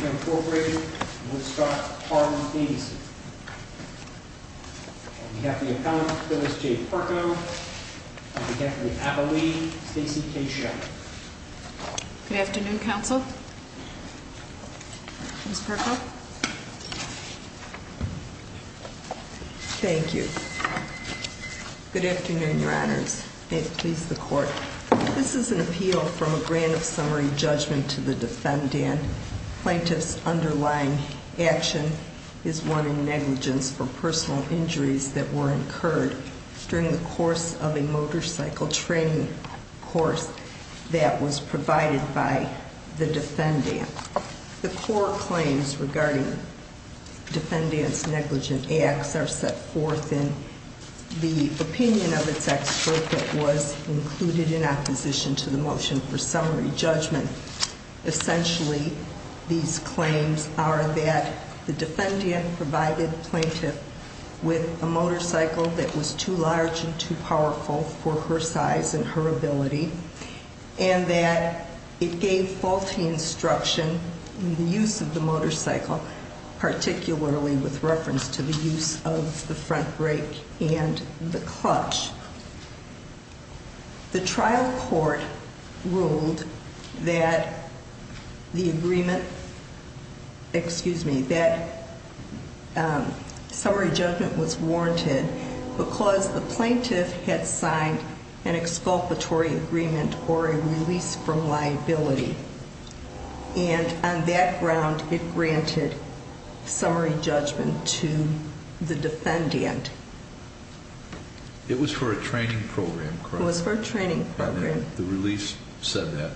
Incorporated, Woodstock, Harlem, ABC. On behalf of the appellant, Phyllis J. Perko. On behalf of the appellee, Stacey K. Sheppard. Good afternoon, counsel. Ms. Perko. Thank you. Good afternoon, your honors. May it please the court. This is an appeal from a grant of summary judgment to the defendant. Plaintiff's underlying action is one in negligence for personal injuries that were incurred during the course of a motorcycle training course that was provided by the defendant. The court claims regarding defendant's negligent acts are set forth in the opinion of its expert that was included in opposition to the motion for summary judgment. Essentially, these claims are that the defendant provided plaintiff with a motorcycle that was too large and too powerful for her size and her ability, and that it gave faulty instruction in the use of the motorcycle, particularly with reference to the use of the front brake and the clutch. The trial court ruled that the agreement, excuse me, that summary judgment was warranted because the plaintiff had signed an exculpatory agreement or a release from liability. And on that ground, it granted summary judgment to the defendant. It was for a training program, correct? It was for a training program. And the release said that?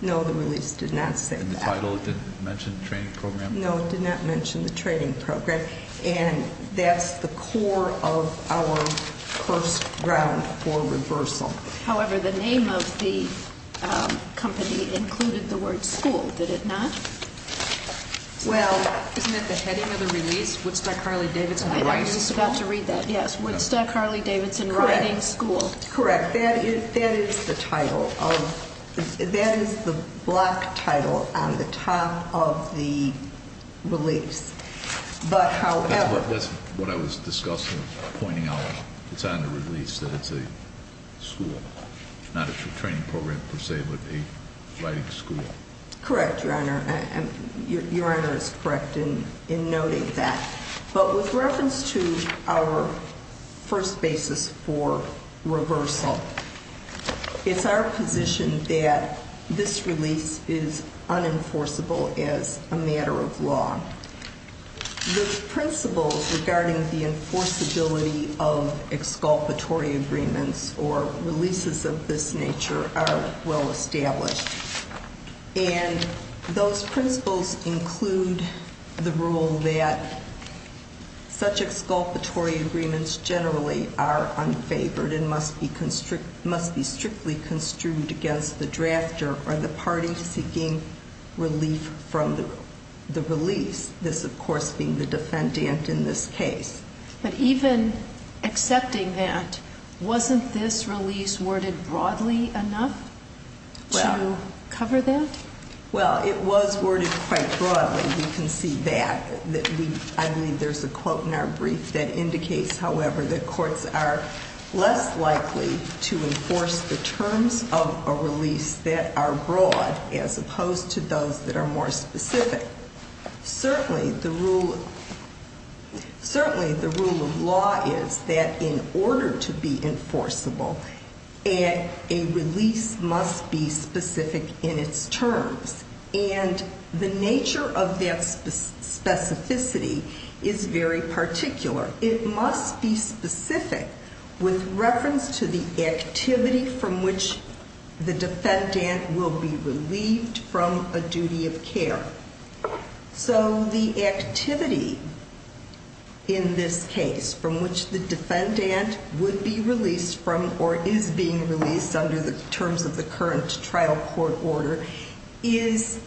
No, the release did not say that. And the title, it didn't mention training program? No, it did not mention the training program. And that's the core of our first ground for reversal. However, the name of the company included the word school, did it not? Isn't that the heading of the release? Woodstock Harley-Davidson Riding School? I was about to read that, yes. Woodstock Harley-Davidson Riding School. Correct. That is the title of, that is the block title on the top of the release. But however... That's what I was discussing, pointing out. It's on the release that it's a school, not a training program per se, but a riding school. Correct, Your Honor. Your Honor is correct in noting that. But with reference to our first basis for reversal, it's our position that this release is unenforceable as a matter of law. The principles regarding the enforceability of exculpatory agreements or releases of this nature are well established. And those principles include the rule that such exculpatory agreements generally are unfavored and must be strictly construed against the drafter or the party seeking relief from the release. This of course being the defendant in this case. But even accepting that, wasn't this release worded broadly enough to cover that? Well, it was worded quite broadly. You can see that. I believe there's a quote in our brief that indicates, however, that courts are less likely to enforce the terms of a release that are broad as opposed to those that are more specific. Certainly the rule of law is that in order to be enforceable, a release must be specific in its terms. And the nature of that specificity is very particular. It must be specific with reference to the activity from which the defendant will be relieved from a duty of care. So the activity in this case from which the defendant would be released from or is being released under the terms of the current trial court order is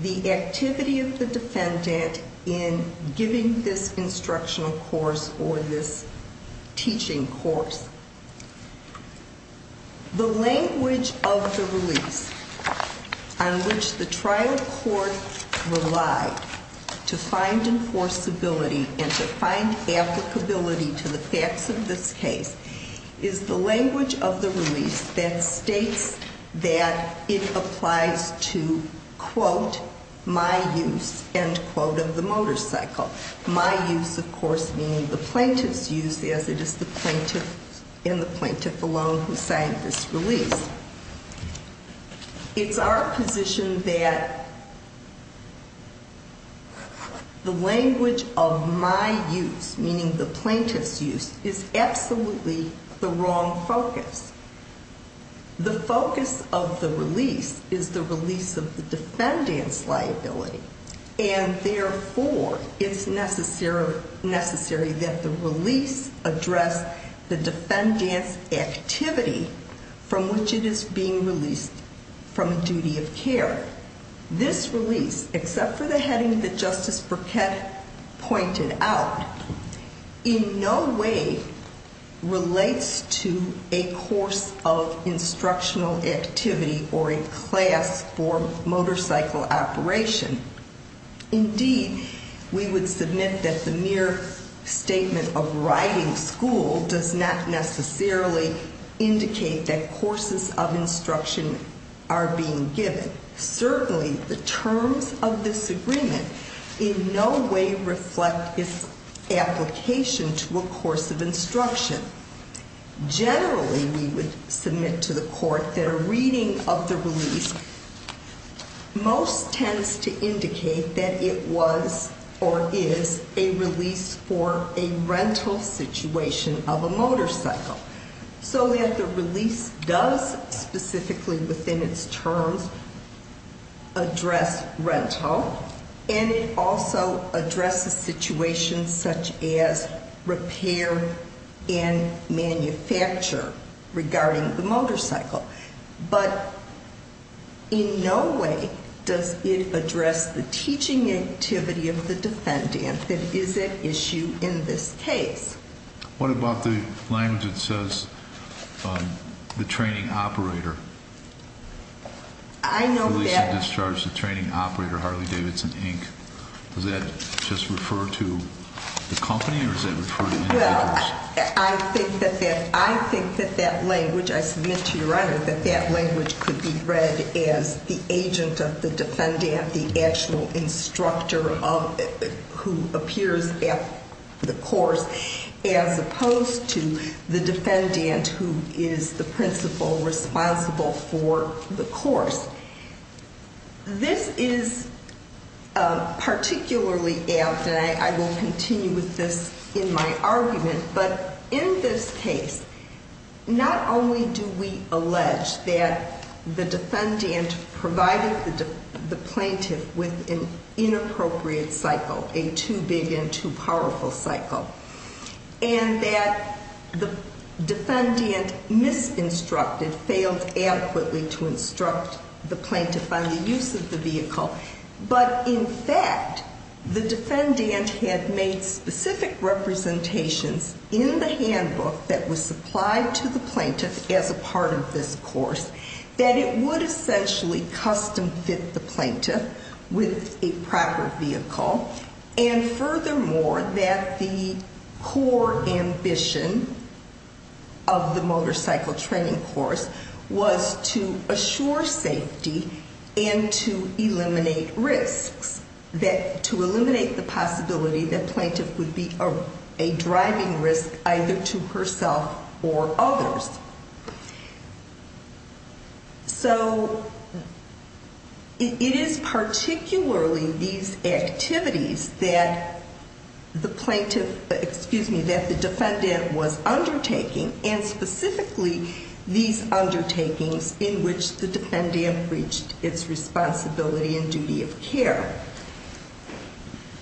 the activity of the defendant in giving this instructional course or this teaching course. The language of the release on which the trial court relied to find enforceability and to find applicability to the facts of this case is the language of the release that states that it applies to, quote, my use, end quote, of the motorcycle. My use, of course, meaning the plaintiff's use as it is the plaintiff and the plaintiff alone who signed this release. It's our position that the language of my use, meaning the plaintiff's use, is absolutely the wrong focus. The focus of the release is the release of the defendant's liability, and therefore it's necessary that the release address the defendant's activity from which it is being released from a duty of care. This release, except for the heading that Justice Burkett pointed out, in no way relates to a course of instructional activity or a class for motorcycle operation. Indeed, we would submit that the mere statement of riding school does not necessarily indicate that courses of instruction are being given. Certainly, the terms of this agreement in no way reflect its application to a course of instruction. Generally, we would submit to the court that a reading of the release most tends to indicate that it was or is a release for a rental situation of a motorcycle. So that the release does, specifically within its terms, address rental. And it also addresses situations such as repair and manufacture regarding the motorcycle. But in no way does it address the teaching activity of the defendant that is at issue in this case. What about the language that says, the training operator? I know that- Release of discharge to training operator, Harley Davidson, Inc. Does that just refer to the company, or does that refer to any other? Well, I think that that language, I submit to your Honor, that that language could be read as the agent of the defendant, the actual instructor who appears at the course, as opposed to the defendant who is the principal responsible for the course. This is particularly apt, and I will continue with this in my argument, but in this case, not only do we allege that the defendant provided the plaintiff with an inappropriate cycle, a too big and too powerful cycle. And that the defendant misinstructed, failed adequately to instruct the plaintiff on the use of the vehicle. But in fact, the defendant had made specific representations in the handbook that was supplied to the plaintiff as a part of this course, that it would essentially custom fit the plaintiff with a proper vehicle. And furthermore, that the core ambition of the motorcycle training course was to assure safety and to eliminate risks. That to eliminate the possibility that plaintiff would be a driving risk either to herself or others. So it is particularly these activities that the plaintiff, excuse me, that the defendant was undertaking, and specifically these undertakings in which the defendant reached its responsibility and duty of care.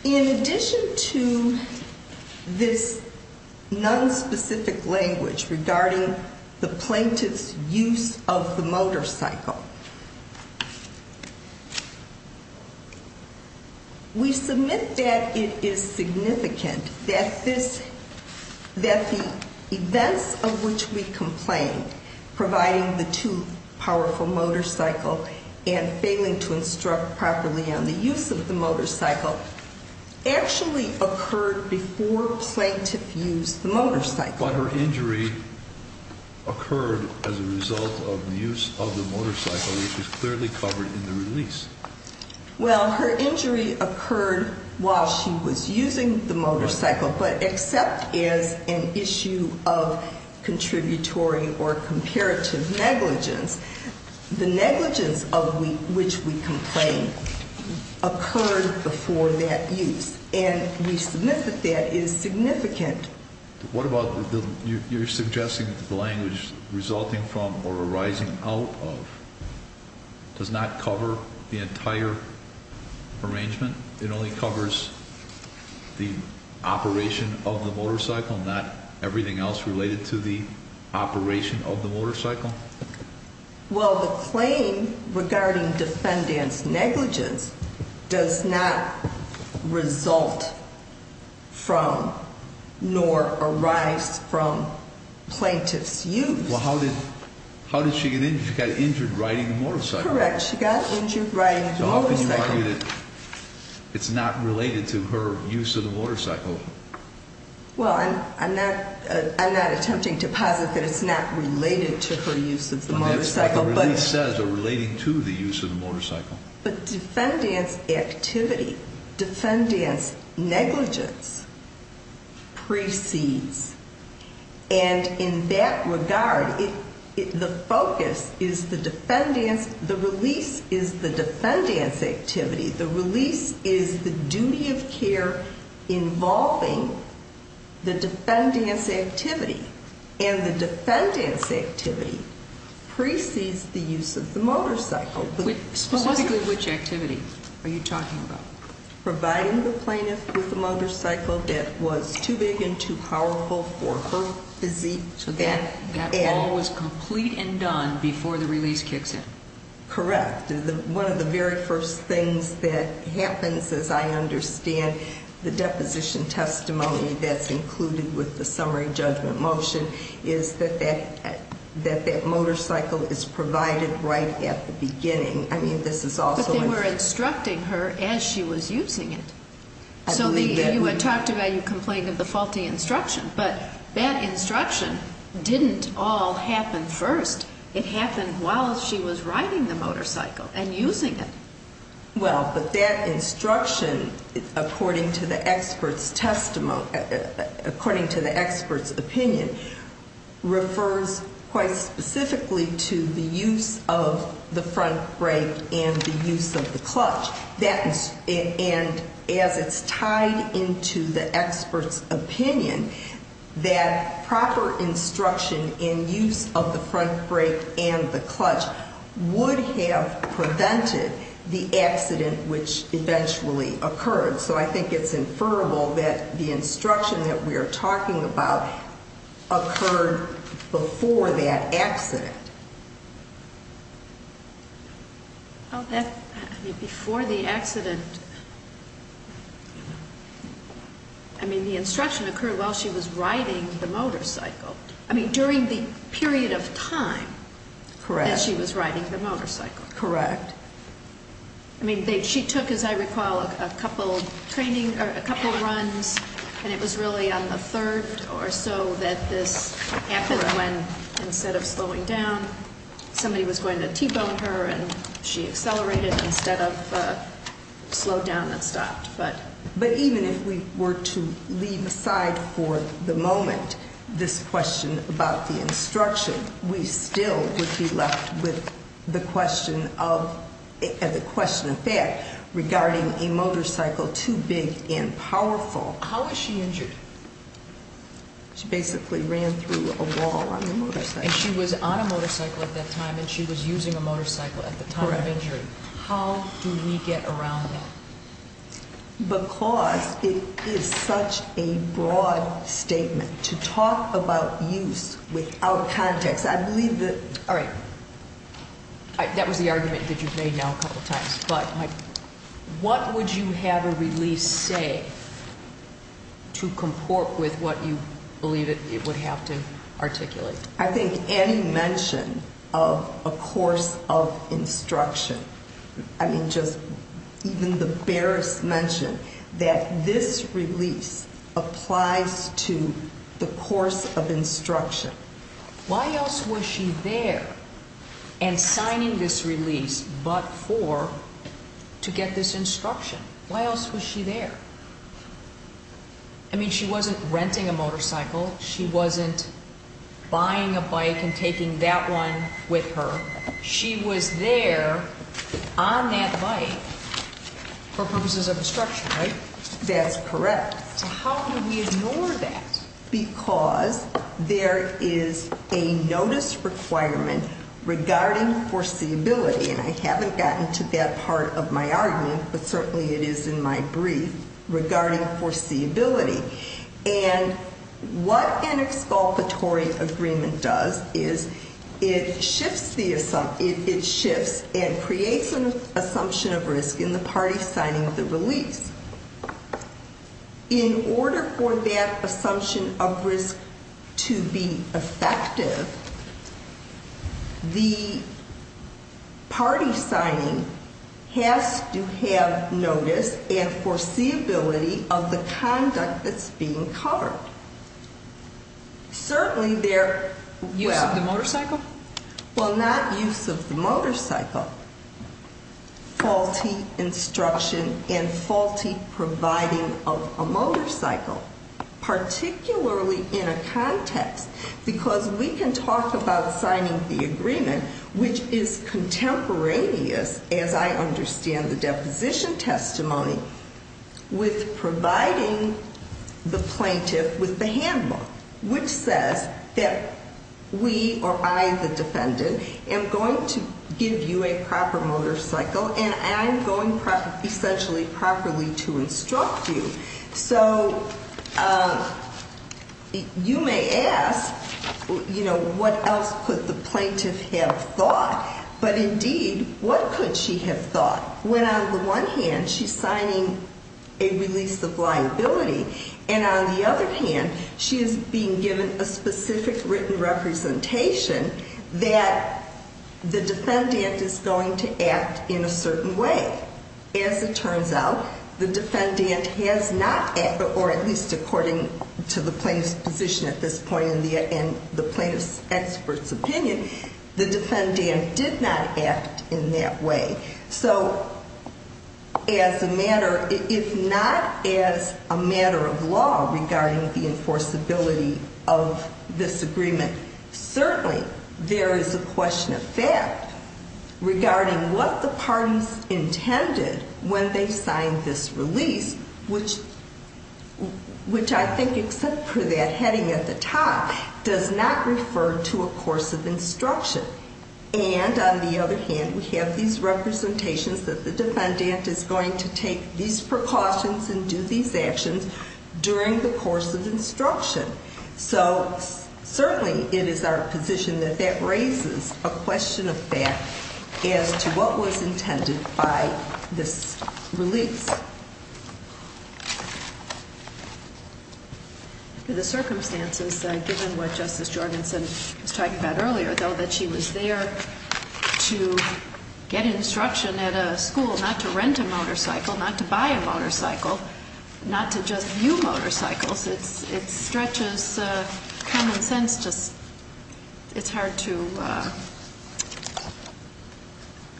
In addition to this nonspecific language regarding the plaintiff's use of the motorcycle, we submit that it is significant that the events of which we complain, providing the too powerful motorcycle and failing to instruct properly on the use of the motorcycle, actually occurred before plaintiff used the motorcycle. But her injury occurred as a result of the use of the motorcycle, which was clearly covered in the release. Well, her injury occurred while she was using the motorcycle, but except as an issue of contributory or comparative negligence, the negligence of which we complain occurred before that use. And we submit that that is significant. What about, you're suggesting that the language resulting from or arising out of, does not cover the entire arrangement? It only covers the operation of the motorcycle, not everything else related to the operation of the motorcycle? Well, the claim regarding defendant's negligence does not result from, nor arise from, plaintiff's use. Well, how did she get injured? She got injured riding a motorcycle. Correct. She got injured riding a motorcycle. So how can you argue that it's not related to her use of the motorcycle? Well, I'm not attempting to posit that it's not related to her use of the motorcycle. Well, that's what the release says, or relating to the use of the motorcycle. But defendant's activity, defendant's negligence, precedes. And in that regard, the focus is the defendant's, the release is the defendant's activity. The release is the duty of care involving the defendant's activity. And the defendant's activity precedes the use of the motorcycle. Specifically which activity are you talking about? Providing the plaintiff with a motorcycle that was too big and too powerful for her physique. So that all was complete and done before the release kicks in. Correct. One of the very first things that happens, as I understand, the deposition testimony that's included with the summary judgment motion, is that that motorcycle is provided right at the beginning. I mean, this is also in. But they were instructing her as she was using it. I believe that. So you had talked about, you complained of the faulty instruction. But that instruction didn't all happen first. It happened while she was riding the motorcycle and using it. Well, but that instruction, according to the expert's opinion, refers quite specifically to the use of the front brake and the use of the clutch. And as it's tied into the expert's opinion, that proper instruction in use of the front brake and the clutch would have prevented the accident which eventually occurred. So I think it's inferable that the instruction that we are talking about occurred before that accident. Before the accident. I mean, the instruction occurred while she was riding the motorcycle. I mean, during the period of time that she was riding the motorcycle. Correct. I mean, she took, as I recall, a couple of runs, and it was really on the third or so that this happened when, instead of slowing down, somebody was going to T-bone her and she accelerated instead of slowed down and stopped. But even if we were to leave aside for the moment this question about the instruction, we still would be left with the question of that regarding a motorcycle too big and powerful. How was she injured? She basically ran through a wall on the motorcycle. And she was on a motorcycle at that time, and she was using a motorcycle at the time of injury. Correct. How do we get around that? Because it is such a broad statement to talk about use without context. I believe that. All right. That was the argument that you've made now a couple of times. But what would you have a release say to comport with what you believe it would have to articulate? I think any mention of a course of instruction. I mean, just even the barest mention that this release applies to the course of instruction. Why else was she there and signing this release but for to get this instruction? Why else was she there? I mean, she wasn't renting a motorcycle. She wasn't buying a bike and taking that one with her. She was there on that bike for purposes of instruction, right? That's correct. So how do we ignore that? Because there is a notice requirement regarding foreseeability. And I haven't gotten to that part of my argument, but certainly it is in my brief regarding foreseeability. And what an exculpatory agreement does is it shifts and creates an assumption of risk in the party signing of the release. In order for that assumption of risk to be effective, the party signing has to have notice and foreseeability of the conduct that's being covered. Use of the motorcycle? Well, not use of the motorcycle. Faulty instruction and faulty providing of a motorcycle, particularly in a context because we can talk about signing the agreement, which is contemporaneous, as I understand the deposition testimony, with providing the plaintiff with the handbook, which says that we or I, the defendant, am going to give you a proper motorcycle and I'm going to essentially properly to instruct you. So you may ask, you know, what else could the plaintiff have thought? But indeed, what could she have thought when on the one hand she's signing a release of liability and on the other hand she is being given a specific written representation that the defendant is going to act in a certain way? As it turns out, the defendant has not, or at least according to the plaintiff's position at this point and the plaintiff's expert's opinion, the defendant did not act in that way. So as a matter, if not as a matter of law regarding the enforceability of this agreement, certainly there is a question of fact regarding what the parties intended when they signed this release, which I think except for that heading at the top does not refer to a course of instruction. And on the other hand, we have these representations that the defendant is going to take these precautions and do these actions during the course of instruction. So certainly it is our position that that raises a question of fact as to what was intended by this release. In the circumstances, given what Justice Jorgenson was talking about earlier, though that she was there to get instruction at a school not to rent a motorcycle, not to buy a motorcycle, not to just view motorcycles, it stretches common sense just, it's hard to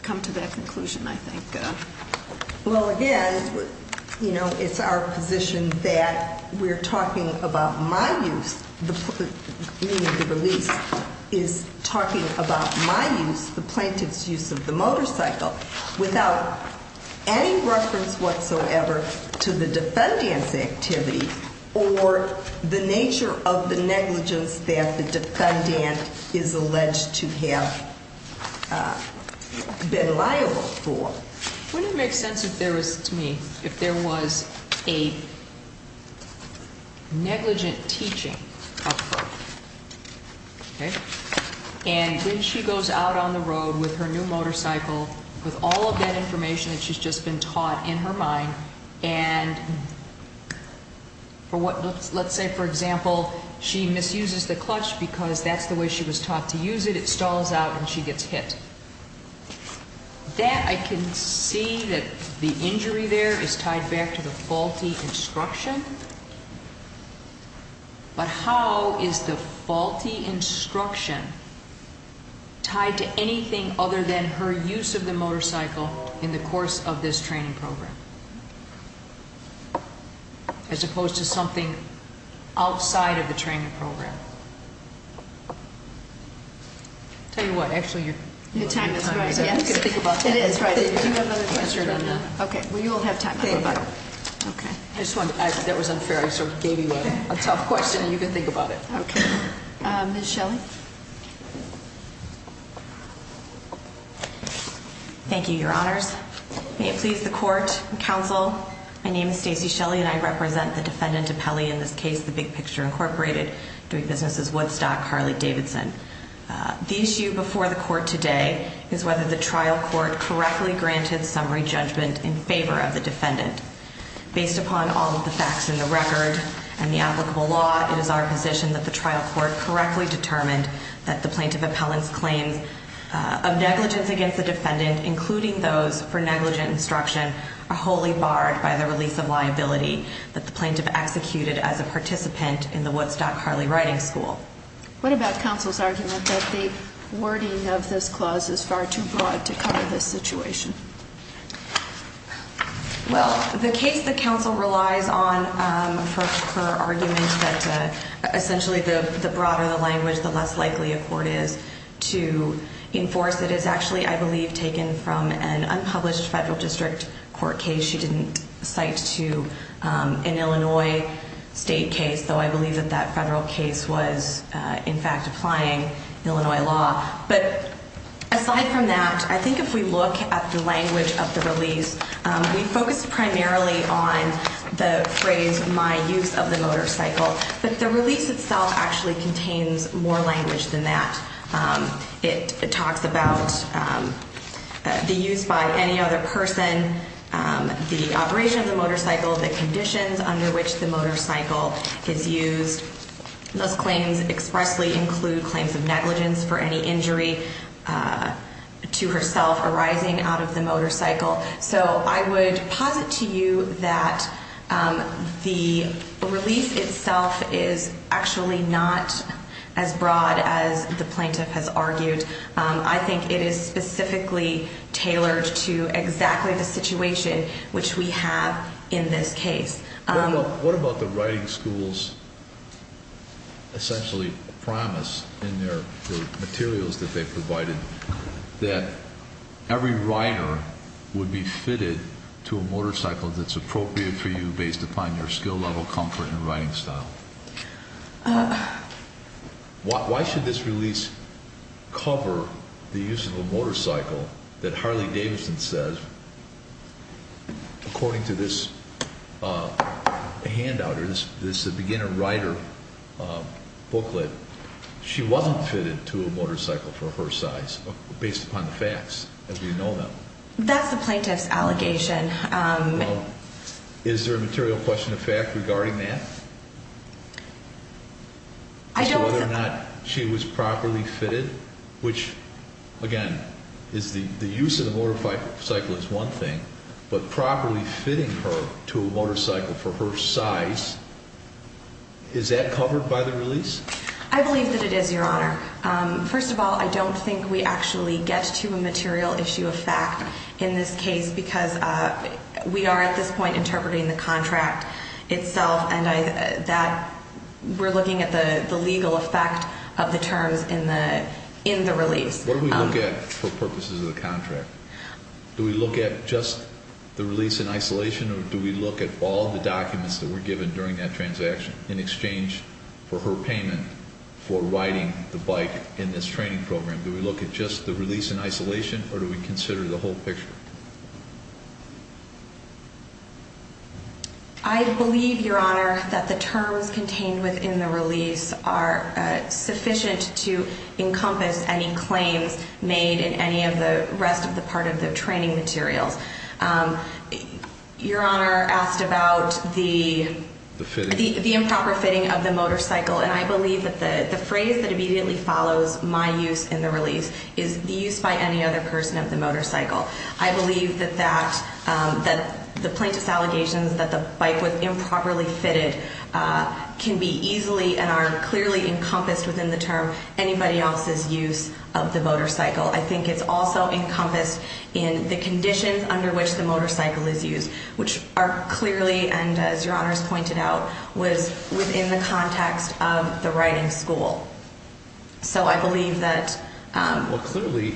come to that conclusion, I think. Well, again, you know, it's our position that we're talking about my use, meaning the release, is talking about my use, the plaintiff's use of the motorcycle, without any reference whatsoever to the defendant's activity or the nature of the negligence that the defendant is alleged to have been liable for. Wouldn't it make sense if there was, to me, if there was a negligent teaching of her, okay? And when she goes out on the road with her new motorcycle, with all of that information that she's just been taught in her mind, and for what, let's say, for example, she misuses the clutch because that's the way she was taught to use it. It stalls out and she gets hit. That, I can see that the injury there is tied back to the faulty instruction. But how is the faulty instruction tied to anything other than her use of the motorcycle in the course of this training program? As opposed to something outside of the training program. Tell you what, actually, you're- Your time is right, yes. I'm going to speak about that. It is, right. Do you have another question? Answer it on that. Okay. Well, you'll have time to go back. Okay. I just wanted to, that was unfair. I sort of gave you a tough question and you can think about it. Okay. Ms. Shelley? Thank you, Your Honors. May it please the court and counsel, my name is Stacey Shelley and I represent the defendant appellee in this case, the Big Picture Incorporated, doing businesses, Woodstock, Harley-Davidson. The issue before the court today is whether the trial court correctly granted summary judgment in favor of the defendant. Based upon all of the facts in the record and the applicable law, it is our position that the trial court correctly determined that the plaintiff appellant's claims of negligence against the defendant, including those for negligent instruction, are wholly barred by the release of liability that the plaintiff executed as a participant in the Woodstock-Harley Riding School. What about counsel's argument that the wording of this clause is far too broad to cover this situation? Well, the case that counsel relies on for her argument that essentially the broader the language, the less likely a court is to enforce it is actually, I believe, taken from an unpublished federal district court case she didn't cite to an Illinois state case, though I believe that that federal case was, in fact, applying Illinois law. But aside from that, I think if we look at the language of the release, we focused primarily on the phrase, my use of the motorcycle. But the release itself actually contains more language than that. It talks about the use by any other person, the operation of the motorcycle, the conditions under which the motorcycle is used. Those claims expressly include claims of negligence for any injury to herself arising out of the motorcycle. So I would posit to you that the release itself is actually not as broad as the plaintiff has argued. I think it is specifically tailored to exactly the situation which we have in this case. What about the riding school's essentially promise in their materials that they provided that every rider would be fitted to a motorcycle that's appropriate for you based upon your skill level, comfort, and riding style? Why should this release cover the use of a motorcycle that Harley Davidson says, according to this handout or this beginner rider booklet, she wasn't fitted to a motorcycle for her size based upon the facts as we know them? That's the plaintiff's allegation. Well, is there a material question of fact regarding that? Whether or not she was properly fitted, which, again, the use of the motorcycle is one thing, but properly fitting her to a motorcycle for her size, is that covered by the release? I believe that it is, Your Honor. First of all, I don't think we actually get to a material issue of fact in this case because we are at this point interpreting the contract itself, and we're looking at the legal effect of the terms in the release. What do we look at for purposes of the contract? Do we look at just the release in isolation, or do we look at all the documents that were given during that transaction in exchange for her payment for riding the bike in this training program? Do we look at just the release in isolation, or do we consider the whole picture? I believe, Your Honor, that the terms contained within the release are sufficient to encompass any claims made in any of the rest of the part of the training materials. Your Honor asked about the improper fitting of the motorcycle, and I believe that the phrase that immediately follows my use in the release is used by any other person of the motorcycle. I believe that the plaintiff's allegations that the bike was improperly fitted can be easily and are clearly encompassed within the term anybody else's use of the motorcycle. I think it's also encompassed in the conditions under which the motorcycle is used, which are clearly, and as Your Honor has pointed out, was within the context of the riding school. So I believe that... Well, clearly,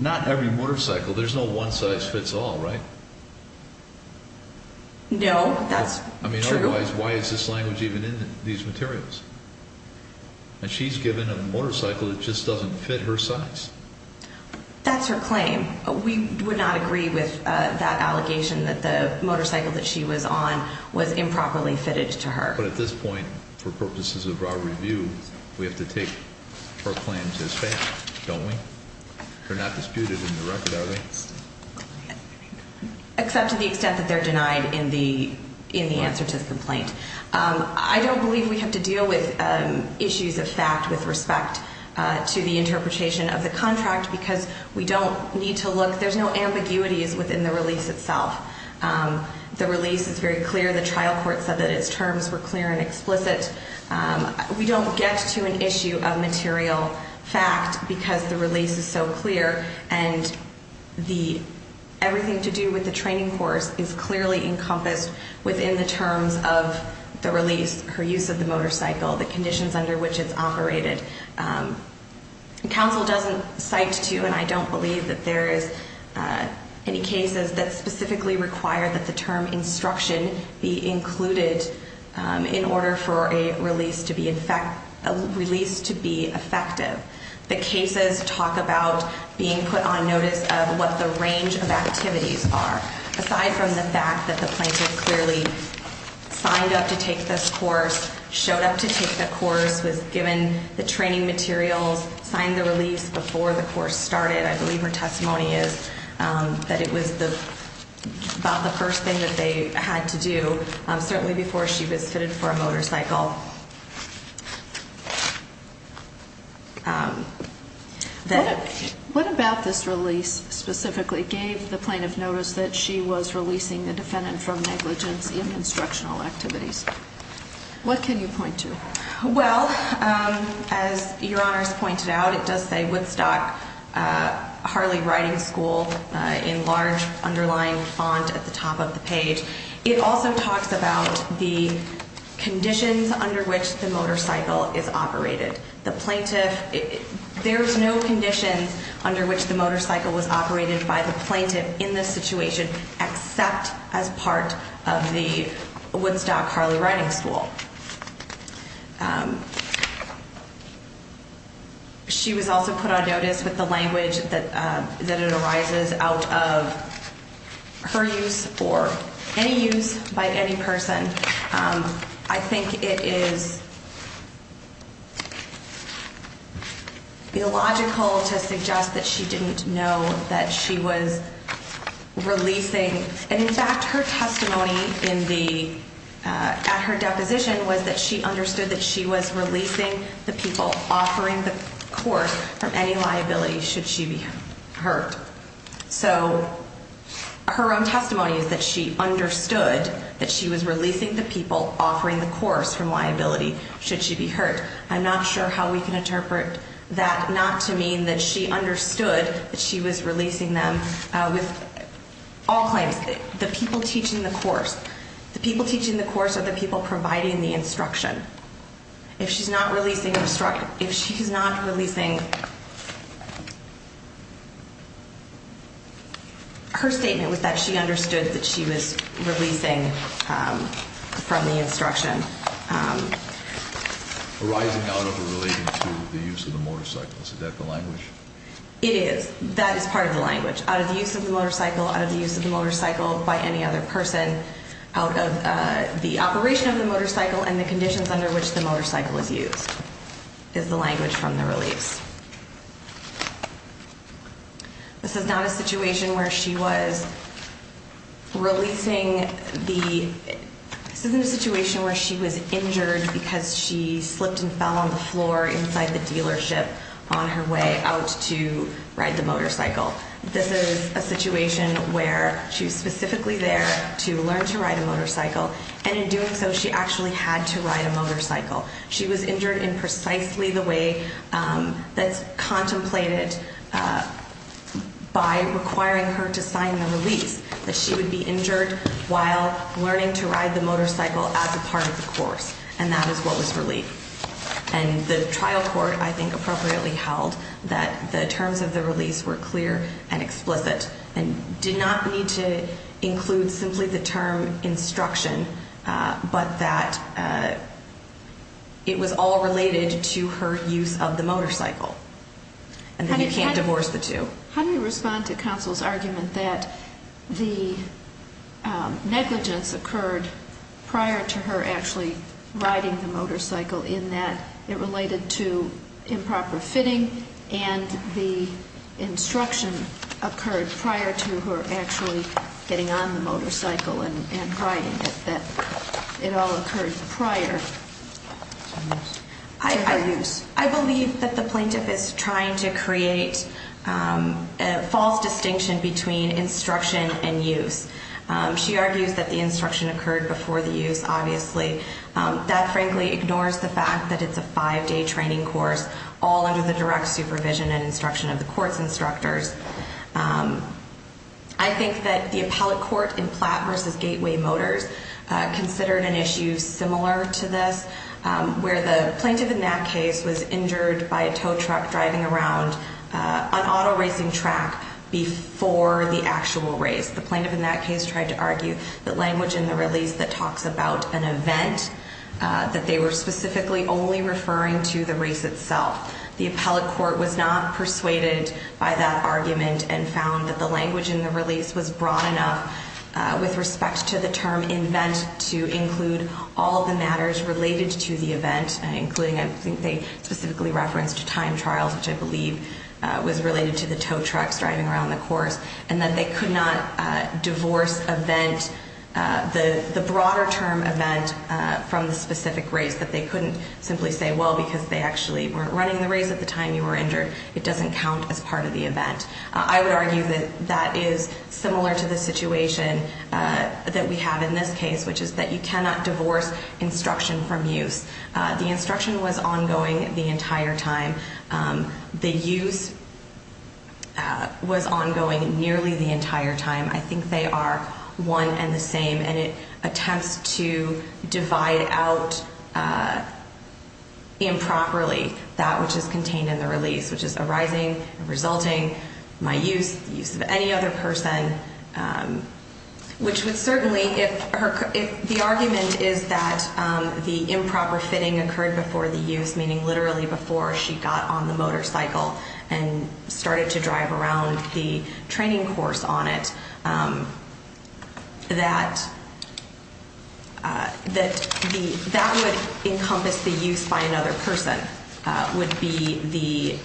not every motorcycle, there's no one-size-fits-all, right? No, that's true. I mean, otherwise, why is this language even in these materials? And she's given a motorcycle that just doesn't fit her size. That's her claim. We would not agree with that allegation that the motorcycle that she was on was improperly fitted to her. But at this point, for purposes of our review, we have to take her claims as fact, don't we? They're not disputed in the record, are they? Except to the extent that they're denied in the answer to the complaint. I don't believe we have to deal with issues of fact with respect to the interpretation of the contract because we don't need to look. There's no ambiguities within the release itself. The release is very clear. The trial court said that its terms were clear and explicit. We don't get to an issue of material fact because the release is so clear, and everything to do with the training course is clearly encompassed within the terms of the release, her use of the motorcycle, the conditions under which it's operated. Counsel doesn't cite to, and I don't believe that there is any cases that specifically require that the term instruction be included in order for a release to be effective. The cases talk about being put on notice of what the range of activities are. Aside from the fact that the plaintiff clearly signed up to take this course, showed up to take the course, was given the training materials, signed the release before the course started. I believe her testimony is that it was about the first thing that they had to do, certainly before she was fitted for a motorcycle. What about this release specifically gave the plaintiff notice that she was releasing the defendant from negligence in instructional activities? What can you point to? Well, as Your Honors pointed out, it does say Woodstock Harley Riding School in large underlying font at the top of the page. It also talks about the conditions under which the motorcycle is operated. There's no conditions under which the motorcycle was operated by the plaintiff in this situation except as part of the Woodstock Harley Riding School. She was also put on notice with the language that it arises out of her use or any use by any person. I think it is illogical to suggest that she didn't know that she was releasing. And in fact, her testimony at her deposition was that she understood that she was releasing the people offering the course from any liability should she be hurt. So her own testimony is that she understood that she was releasing the people offering the course from liability should she be hurt. I'm not sure how we can interpret that not to mean that she understood that she was releasing them with all claims, the people teaching the course. The people teaching the course are the people providing the instruction. If she's not releasing her statement was that she understood that she was releasing from the instruction. Arising out of or relating to the use of the motorcycle. Is that the language? It is. That is part of the language. Out of the use of the motorcycle, out of the use of the motorcycle by any other person, out of the operation of the motorcycle and the conditions under which the motorcycle is used is the language from the release. This is not a situation where she was releasing the, this isn't a situation where she was injured because she slipped and fell on the floor inside the dealership on her way out to ride the motorcycle. This is a situation where she was specifically there to learn to ride a motorcycle and in doing so she actually had to ride a motorcycle. She was injured in precisely the way that's contemplated by requiring her to sign the release. That she would be injured while learning to ride the motorcycle as a part of the course and that is what was released. And the trial court I think appropriately held that the terms of the release were clear and explicit and did not need to include simply the term instruction but that it was all related to her use of the motorcycle and that you can't divorce the two. How do you respond to counsel's argument that the negligence occurred prior to her actually riding the motorcycle in that it related to improper fitting and the instruction occurred prior to her actually getting on the motorcycle and riding it, that it all occurred prior to her use? I believe that the plaintiff is trying to create a false distinction between instruction and use. She argues that the instruction occurred before the use obviously. That frankly ignores the fact that it's a five-day training course all under the direct supervision and instruction of the court's instructors. I think that the appellate court in Platt v. Gateway Motors considered an issue similar to this where the plaintiff in that case was injured by a tow truck driving around an auto racing track before the actual race. The plaintiff in that case tried to argue the language in the release that talks about an event that they were specifically only referring to the race itself. The appellate court was not persuaded by that argument and found that the language in the release was broad enough with respect to the term invent to include all the matters related to the event, including I think they specifically referenced time trials, which I believe was related to the tow trucks driving around the course, and that they could not divorce event, the broader term event from the specific race, that they couldn't simply say, well, because they actually weren't running the race at the time you were injured, it doesn't count as part of the event. I would argue that that is similar to the situation that we have in this case, which is that you cannot divorce instruction from use. The instruction was ongoing the entire time. The use was ongoing nearly the entire time. I think they are one and the same, and it attempts to divide out improperly that which is contained in the release, which is arising and resulting, my use, the use of any other person, which would certainly, if the argument is that the improper fitting occurred before the use, meaning literally before she got on the motorcycle and started to drive around the training course on it, that that would encompass the use by another person, would be the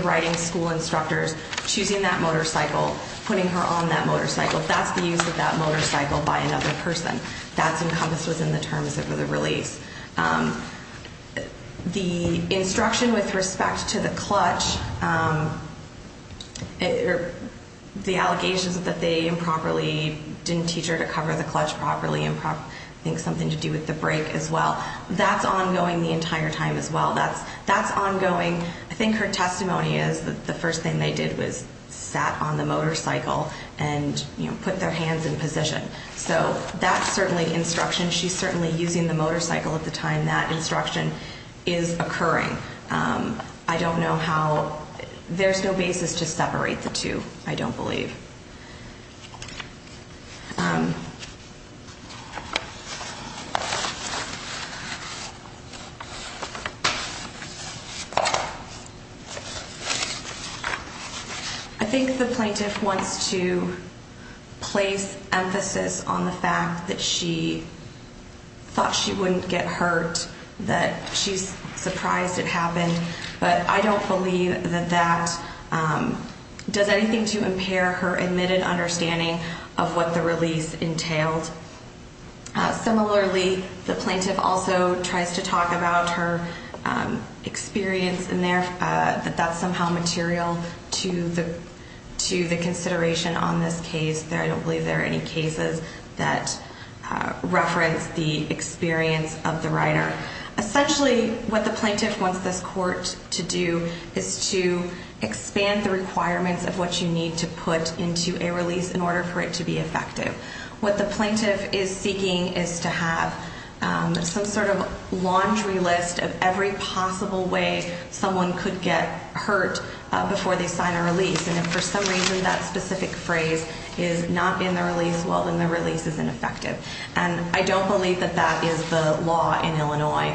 writing school instructors choosing that motorcycle, putting her on that motorcycle. That's the use of that motorcycle by another person. That's encompassed within the terms of the release. The instruction with respect to the clutch, the allegations that they improperly didn't teach her to cover the clutch properly, I think something to do with the brake as well, that's ongoing the entire time as well. That's ongoing. I think her testimony is that the first thing they did was sat on the motorcycle and put their hands in position. So that's certainly instruction. She's certainly using the motorcycle at the time. That instruction is occurring. I don't know how. There's no basis to separate the two, I don't believe. I think the plaintiff wants to place emphasis on the fact that she thought she wouldn't get hurt, that she's surprised it happened. But I don't believe that that does anything to impair her admitted understanding of what the release entailed. Similarly, the plaintiff also tries to talk about her experience and that that's somehow material to the consideration on this case. I don't believe there are any cases that reference the experience of the rider. Essentially, what the plaintiff wants this court to do is to expand the requirements of what you need to put into a release in order for it to be effective. What the plaintiff is seeking is to have some sort of laundry list of every possible way someone could get hurt before they sign a release. And if for some reason that specific phrase is not in the release, well, then the release is ineffective. And I don't believe that that is the law in Illinois.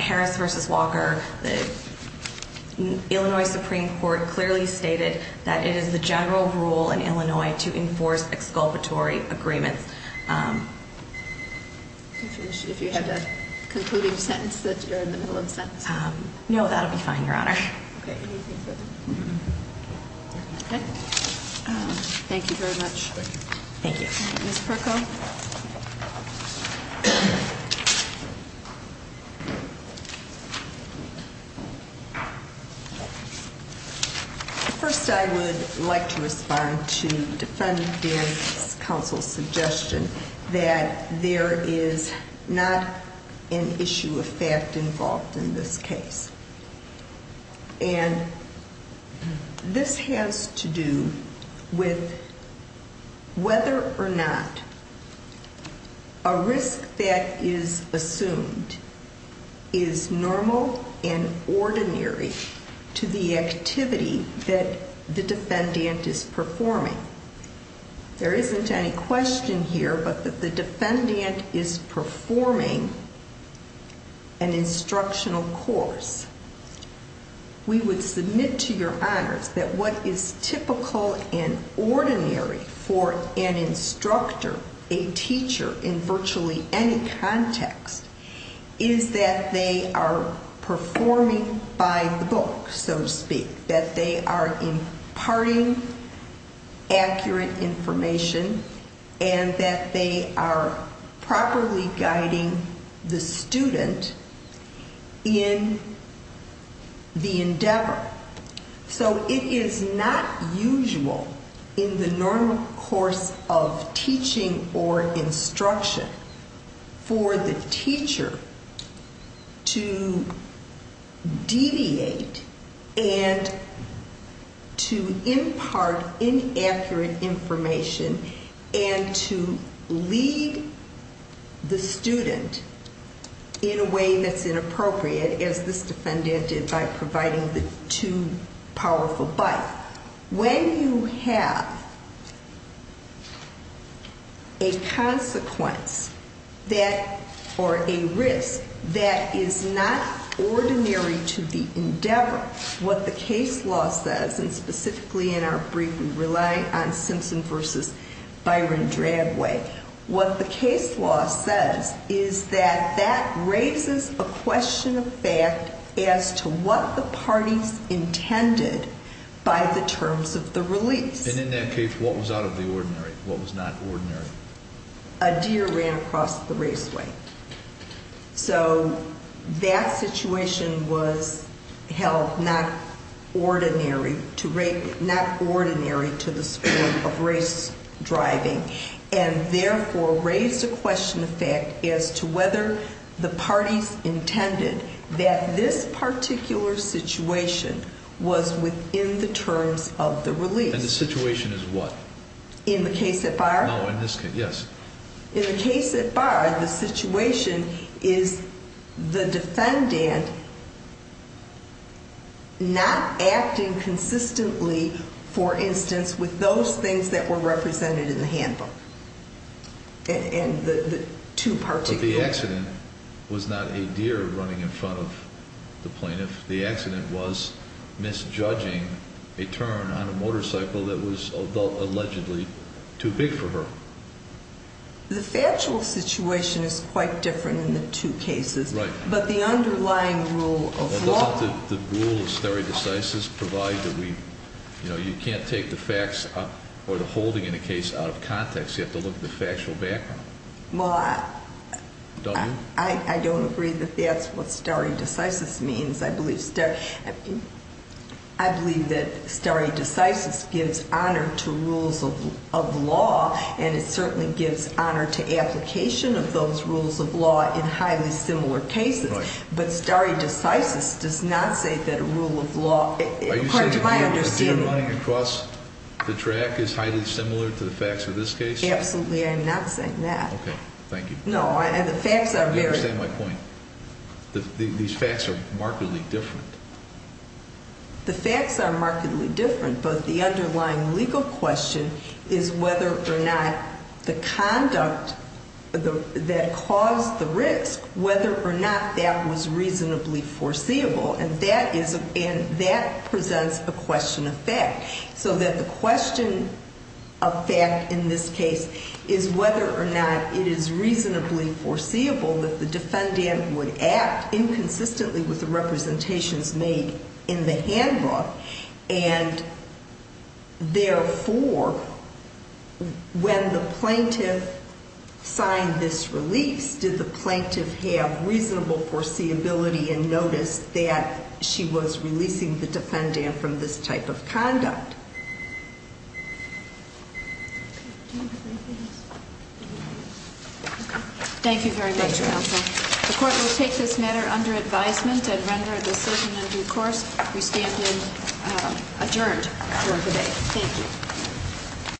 Harris v. Walker, the Illinois Supreme Court clearly stated that it is the general rule in Illinois to enforce exculpatory agreements. If you have a concluding sentence that you're in the middle of a sentence. No, that'll be fine, Your Honor. Thank you very much. Thank you. Ms. Perko? First, I would like to respond to Defendant's counsel's suggestion that there is not an issue of fact involved in this case. And this has to do with whether or not a risk that is assumed is normal and ordinary to the activity that the defendant is performing. There isn't any question here but that the defendant is performing an instructional course. We would submit to Your Honors that what is typical and ordinary for an instructor, a teacher in virtually any context, is that they are performing by the book, so to speak. That they are imparting accurate information and that they are properly guiding the student in the endeavor. So it is not usual in the normal course of teaching or instruction for the teacher to deviate and to impart inaccurate information and to lead the student in a way that's inappropriate as this defendant did by providing the too powerful bite. When you have a consequence or a risk that is not ordinary to the endeavor, what the case law says, and specifically in our brief we rely on Simpson v. Byron Dragway, what the case law says is that that raises a question of fact as to what the parties intended by the terms of the release. And in that case, what was out of the ordinary? What was not ordinary? A deer ran across the raceway. So that situation was held not ordinary to the school of race driving, and therefore raised a question of fact as to whether the parties intended that this particular situation was within the terms of the release. And the situation is what? In the case at Byron? No, in this case, yes. In the case at Byron, the situation is the defendant not acting consistently, for instance, with those things that were represented in the handbook, and the two particular ones. But the accident was not a deer running in front of the plaintiff. The accident was misjudging a turn on a motorcycle that was allegedly too big for her. The factual situation is quite different in the two cases. Right. But the underlying rule of law. The rule of stare decisis provides that we, you know, you can't take the facts or the holding in a case out of context. You have to look at the factual background. Well, I don't agree that that's what stare decisis means. I believe stare, I believe that stare decisis gives honor to rules of law, and it certainly gives honor to application of those rules of law in highly similar cases. Right. But stare decisis does not say that a rule of law, to my understanding. Are you saying that the deer running across the track is highly similar to the facts of this case? Absolutely, I am not saying that. Okay, thank you. No, and the facts are very. I understand my point. These facts are markedly different. The facts are markedly different, but the underlying legal question is whether or not the conduct that caused the risk, whether or not that was reasonably foreseeable, and that presents a question of fact. So that the question of fact in this case is whether or not it is reasonably foreseeable that the defendant would act inconsistently with the representations made in the handbook, and therefore, when the plaintiff signed this release, did the plaintiff have reasonable foreseeability and notice that she was releasing the defendant from this type of conduct? Thank you very much, counsel. The court will take this matter under advisement and render a decision in due course. We stand adjourned for the day. Thank you.